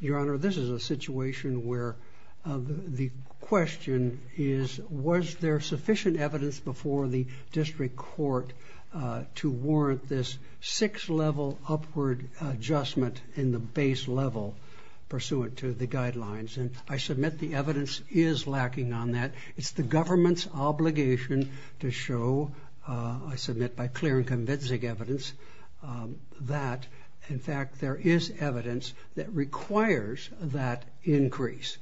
Your Honor, this is a situation where the question is, was there sufficient evidence before the district court to warrant this six-level upward adjustment in the base level pursuant to the guidelines? And I submit the evidence is lacking on that. It's the government's obligation to show, I submit by clear and convincing evidence, that in fact there is evidence that requires that increase.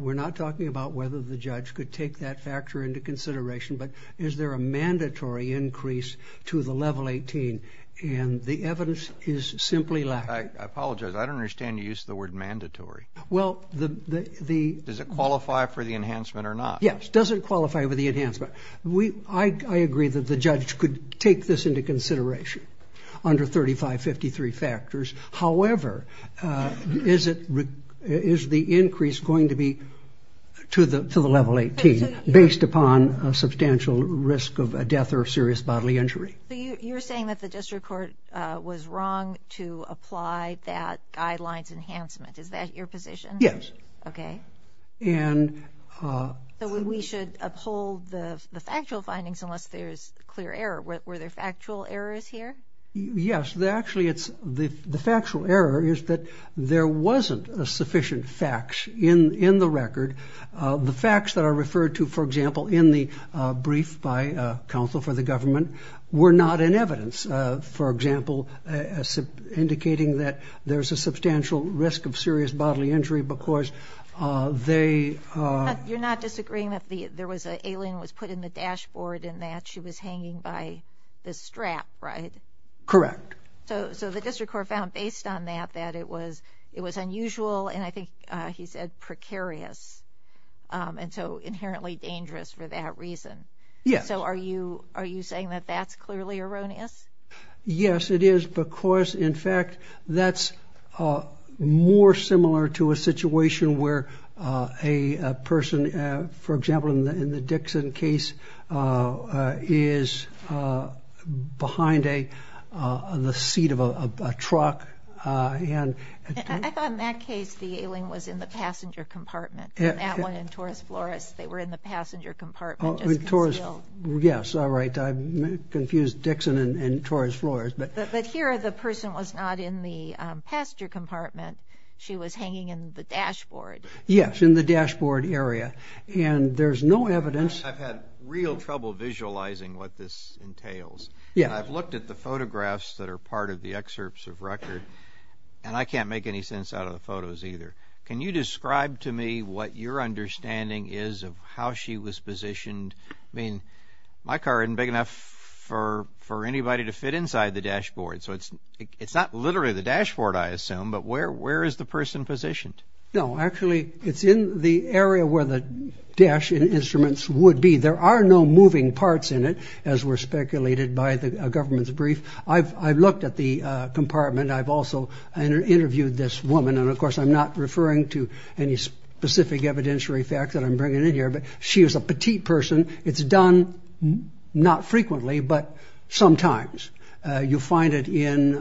We're not talking about whether the judge could take that factor into consideration, but is there a mandatory increase to the level 18, and the evidence is simply lacking. I apologize, I don't understand the use of the word mandatory. Does it qualify for the enhancement or not? Yes, it doesn't qualify for the enhancement. I agree that the judge could take this into consideration, under 3553 factors. However, is the increase going to be to the level 18, based upon a substantial risk of a death or serious bodily injury? You're saying that the district court was wrong to apply that guidelines enhancement. Is that your position? Yes. Okay. And we should uphold the factual findings unless there's clear error. Were there factual errors here? Yes, there actually is. The factual error is that there wasn't a sufficient fact in the record. The facts that are referred to, for example, in the brief by counsel for the government, were not in evidence. For example, indicating that there's a substantial risk of serious bodily injury because they... You're not disagreeing that there was an alien that was put in the dashboard and that she was hanging by the strap, right? Correct. So the district court found, based on that, that it was unusual, and I think he said precarious, and so inherently dangerous for that reason. Yes. So are you saying that that's clearly erroneous? Yes, it is because, in fact, that's more similar to a situation where a person, for example, in the Dixon case, is behind the seat of a truck and... I thought in that case the alien was in the passenger compartment. In that one, in Torres Flores, they were in the passenger compartment. Oh, in Torres... Yes, all right. I confused Dixon and Torres Flores, but... But here the person was not in the passenger compartment. She was hanging in the dashboard. Yes, in the dashboard area, and there's no evidence... I've had real trouble visualizing what this entails. Yeah. I've looked at the photographs that are part of the excerpts of record, and I can't make any sense out of the photos either. Can you describe to me what your understanding is of how she was positioned? I mean, my car isn't big enough for anybody to fit inside the dashboard, so it's not literally the dashboard, I assume, but where is the person positioned? No, actually, it's in the area where the dash and instruments would be. There are no moving parts in it, as were speculated by the government's brief. I've looked at the compartment. I've also interviewed this woman, and of course, I'm not referring to any specific evidentiary fact that I'm bringing in here, but she was a not frequently, but sometimes. You'll find it in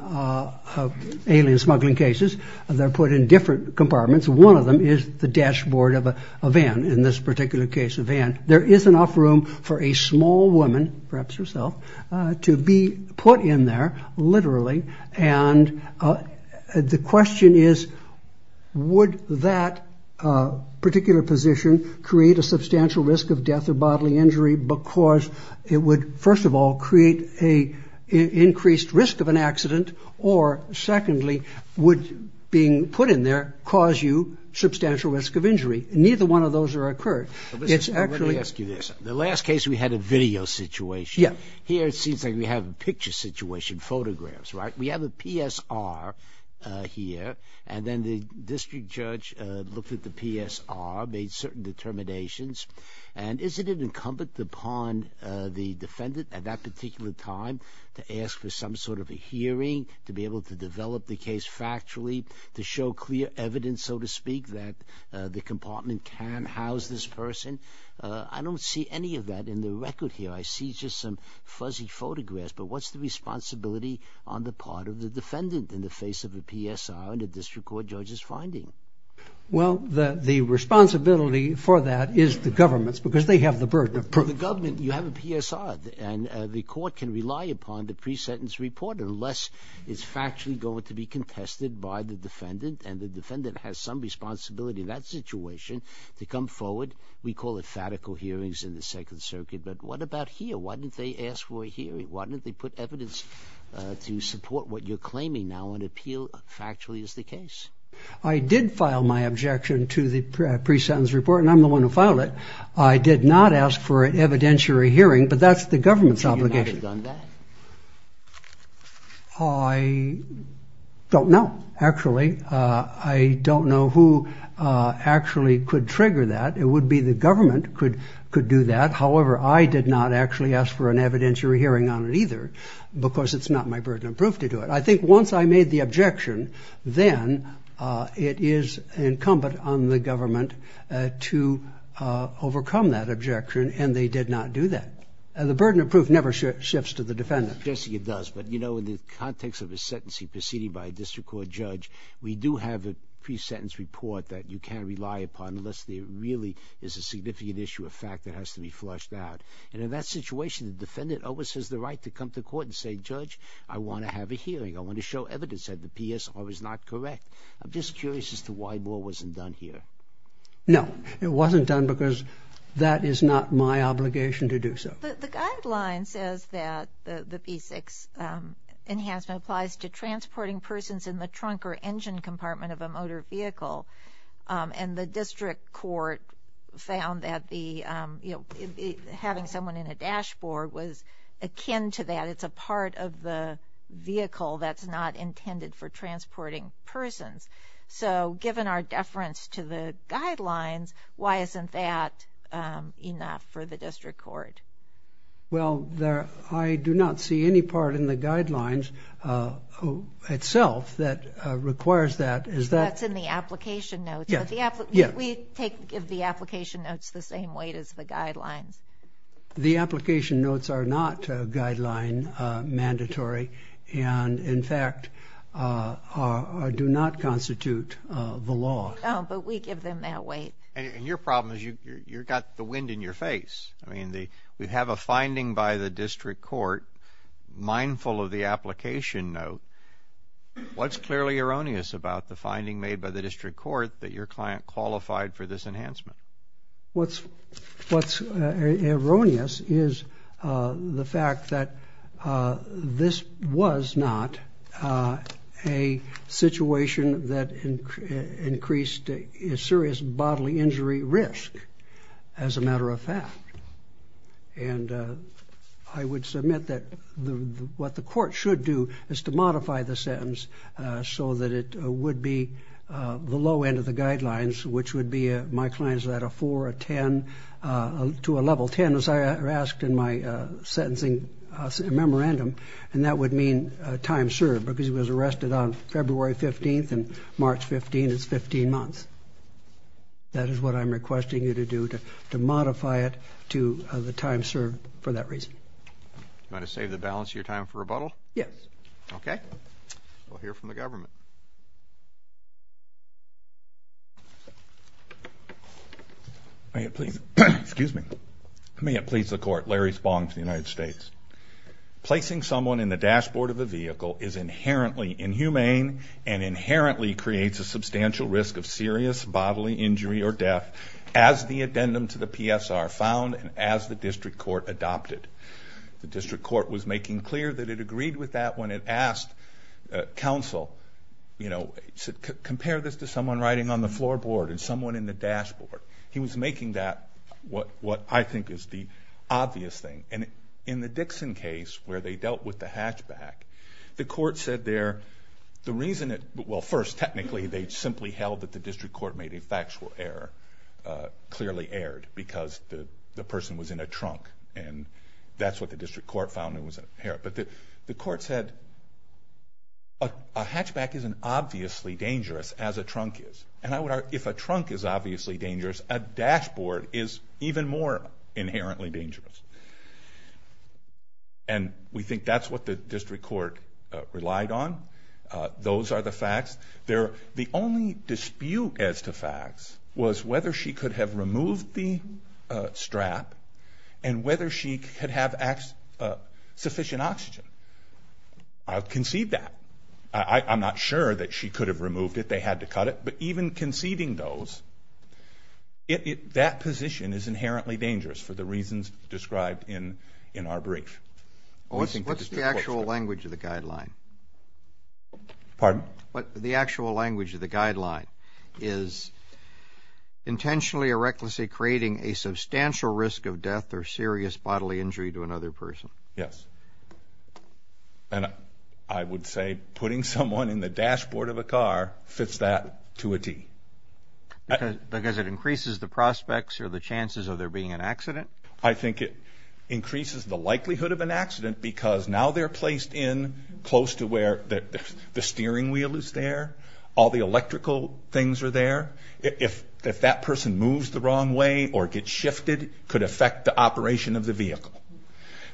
alien smuggling cases. They're put in different compartments. One of them is the dashboard of a van, in this particular case, a van. There is enough room for a small woman, perhaps herself, to be put in there, literally, and the question is, would that particular position create a substantial risk of death or bodily injury, because it would, first of all, create an increased risk of an accident, or secondly, would being put in there cause you substantial risk of injury? Neither one of those are occurred. The last case, we had a video situation. Here, it seems like we have a picture situation, photographs, right? We have a PSR here, and then the district judge looked at the PSR, made certain determinations, and is it an incumbent upon the defendant at that particular time to ask for some sort of a hearing, to be able to develop the case factually, to show clear evidence, so to speak, that the compartment can house this person? I don't see any of that in the record here. I see just some fuzzy photographs, but what's the responsibility on the part of the for that is the government's, because they have the burden of proof. The government, you have a PSR, and the court can rely upon the pre-sentence report, unless it's factually going to be contested by the defendant, and the defendant has some responsibility in that situation to come forward. We call it fatical hearings in the Second Circuit, but what about here? Why didn't they ask for a hearing? Why didn't they put evidence to support what you're claiming now, appeal factually as the case? I did file my objection to the pre-sentence report, and I'm the one who filed it. I did not ask for an evidentiary hearing, but that's the government's obligation. I don't know, actually. I don't know who actually could trigger that. It would be the government could do that. However, I did not actually ask for an evidentiary hearing on it either, because it's not my burden of proof to do it. I think once I made the objection, then it is incumbent on the government to overcome that objection, and they did not do that. The burden of proof never shifts to the defendant. Jesse, it does, but you know, in the context of his sentencing proceeding by a district court judge, we do have a pre-sentence report that you can't rely upon, unless there really is a significant issue of fact that has to be flushed out, and in that situation, the defendant always has the right to come to court and say, Judge, I want to have a hearing. I want to show evidence that the PSR is not correct. I'm just curious as to why more wasn't done here. No, it wasn't done because that is not my obligation to do so. The guideline says that the P6 enhancement applies to transporting persons in the trunk or engine compartment of a dashboard was akin to that. It's a part of the vehicle that's not intended for transporting persons. So, given our deference to the guidelines, why isn't that enough for the district court? Well, there, I do not see any part in the guidelines itself that requires that. That's in the application notes. We give the application notes the same weight as the guidelines. The application notes are not guideline mandatory, and in fact, do not constitute the law. Oh, but we give them that weight. And your problem is, you've got the wind in your face. I mean, we have a finding by the district court, mindful of the application note. What's clearly erroneous about the finding made by the district court that your client qualified for this enhancement? What's erroneous is the fact that this was not a situation that increased serious bodily injury risk, as a matter of fact. And I would submit that what the court should do is to modify the sentence so that it would be the low end of the guidelines, which would be, my client's at a four, a ten, to a level ten, as I asked in my sentencing memorandum. And that would mean time served, because he was arrested on February 15th, and March 15th is 15 months. That is what I'm requesting you to do, to modify it to the time served for that reason. You want to save the balance of your time for rebuttal? Yes. Okay. We'll hear from the government. May it please the court. Larry Spong, for the United States. Placing someone in the dashboard of a vehicle is inherently inhumane, and inherently creates a substantial risk of serious bodily injury or death, as the addendum to the PSR found, and as the district court adopted. The district court was making clear that it agreed with that when it asked counsel, you know, compare this to someone riding on the floorboard and someone in the dashboard. He was making that what I think is the obvious thing. And in the Dixon case, where they dealt with the hatchback, the court said there, the reason it, well, first, technically, they simply held that the district court made a factual error, clearly erred, because the person was in a trunk. And that's what the district court found was inherent. But the court said, a hatchback isn't obviously dangerous as a trunk is. And I would argue, if a trunk is obviously dangerous, a dashboard is even more inherently dangerous. And we think that's what the district court relied on. Those are the facts. The only dispute as to facts was whether she could have removed the strap, and whether she could have sufficient oxygen. I'll concede that. I'm not sure that she could have removed it. They had to cut it. But even conceding those, that position is inherently dangerous for the reasons described in our brief. What's the actual language of the guideline? Pardon? Yes. And I would say putting someone in the dashboard of a car fits that to a T. Because it increases the prospects or the chances of there being an accident? I think it increases the likelihood of an accident, because now they're placed in close to where the steering wheel is there, all the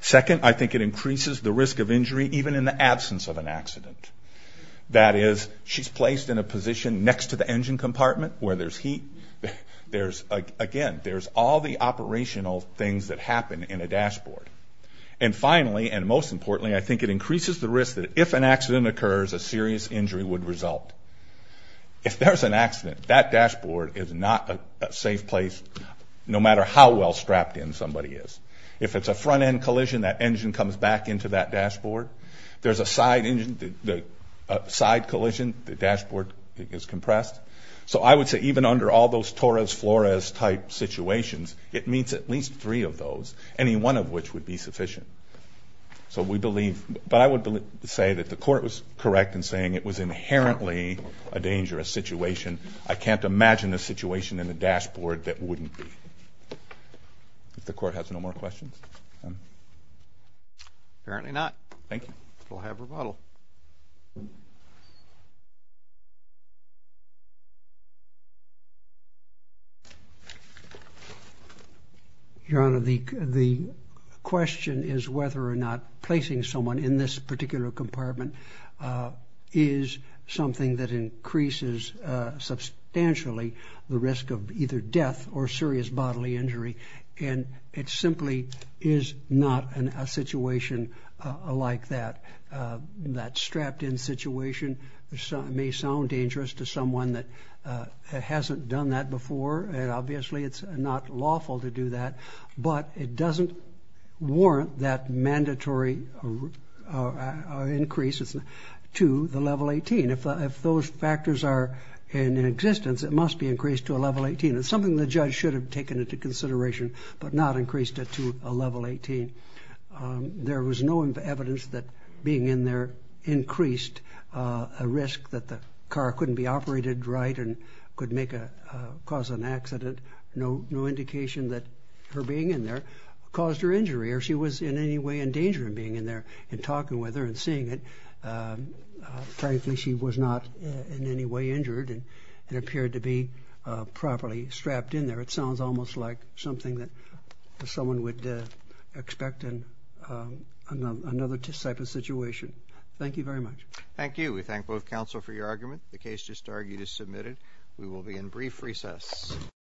Second, I think it increases the risk of injury, even in the absence of an accident. That is, she's placed in a position next to the engine compartment, where there's heat. Again, there's all the operational things that happen in a dashboard. And finally, and most importantly, I think it increases the risk that if an accident occurs, a serious injury would result. If there's an accident, that dashboard is not a safe place, no matter how well strapped in somebody is. If it's a front-end collision, that engine comes back into that dashboard. If there's a side collision, the dashboard is compressed. So I would say even under all those Torres-Flores type situations, it meets at least three of those, any one of which would be sufficient. But I would say that the court was correct in saying it was inherently a dangerous situation. I can't imagine a situation in a The court has no more questions? Apparently not. We'll have rebuttal. Your Honor, the question is whether or not placing someone in this particular compartment is something that increases substantially the risk of either may sound dangerous to someone that hasn't done that before, and obviously it's not lawful to do that, but it doesn't warrant that mandatory increase to the level 18. If those factors are in existence, it must be increased to a level 18. It's something the judge should have taken into consideration, but not being in there increased a risk that the car couldn't be operated right and could cause an accident. No indication that her being in there caused her injury or she was in any way in danger of being in there and talking with her and seeing it. Frankly, she was not in any way injured and appeared to be properly strapped in there. It sounds almost like something that someone would expect in another type of situation. Thank you very much. Thank you. We thank both counsel for your argument. The case just argued is submitted. We will be in brief recess.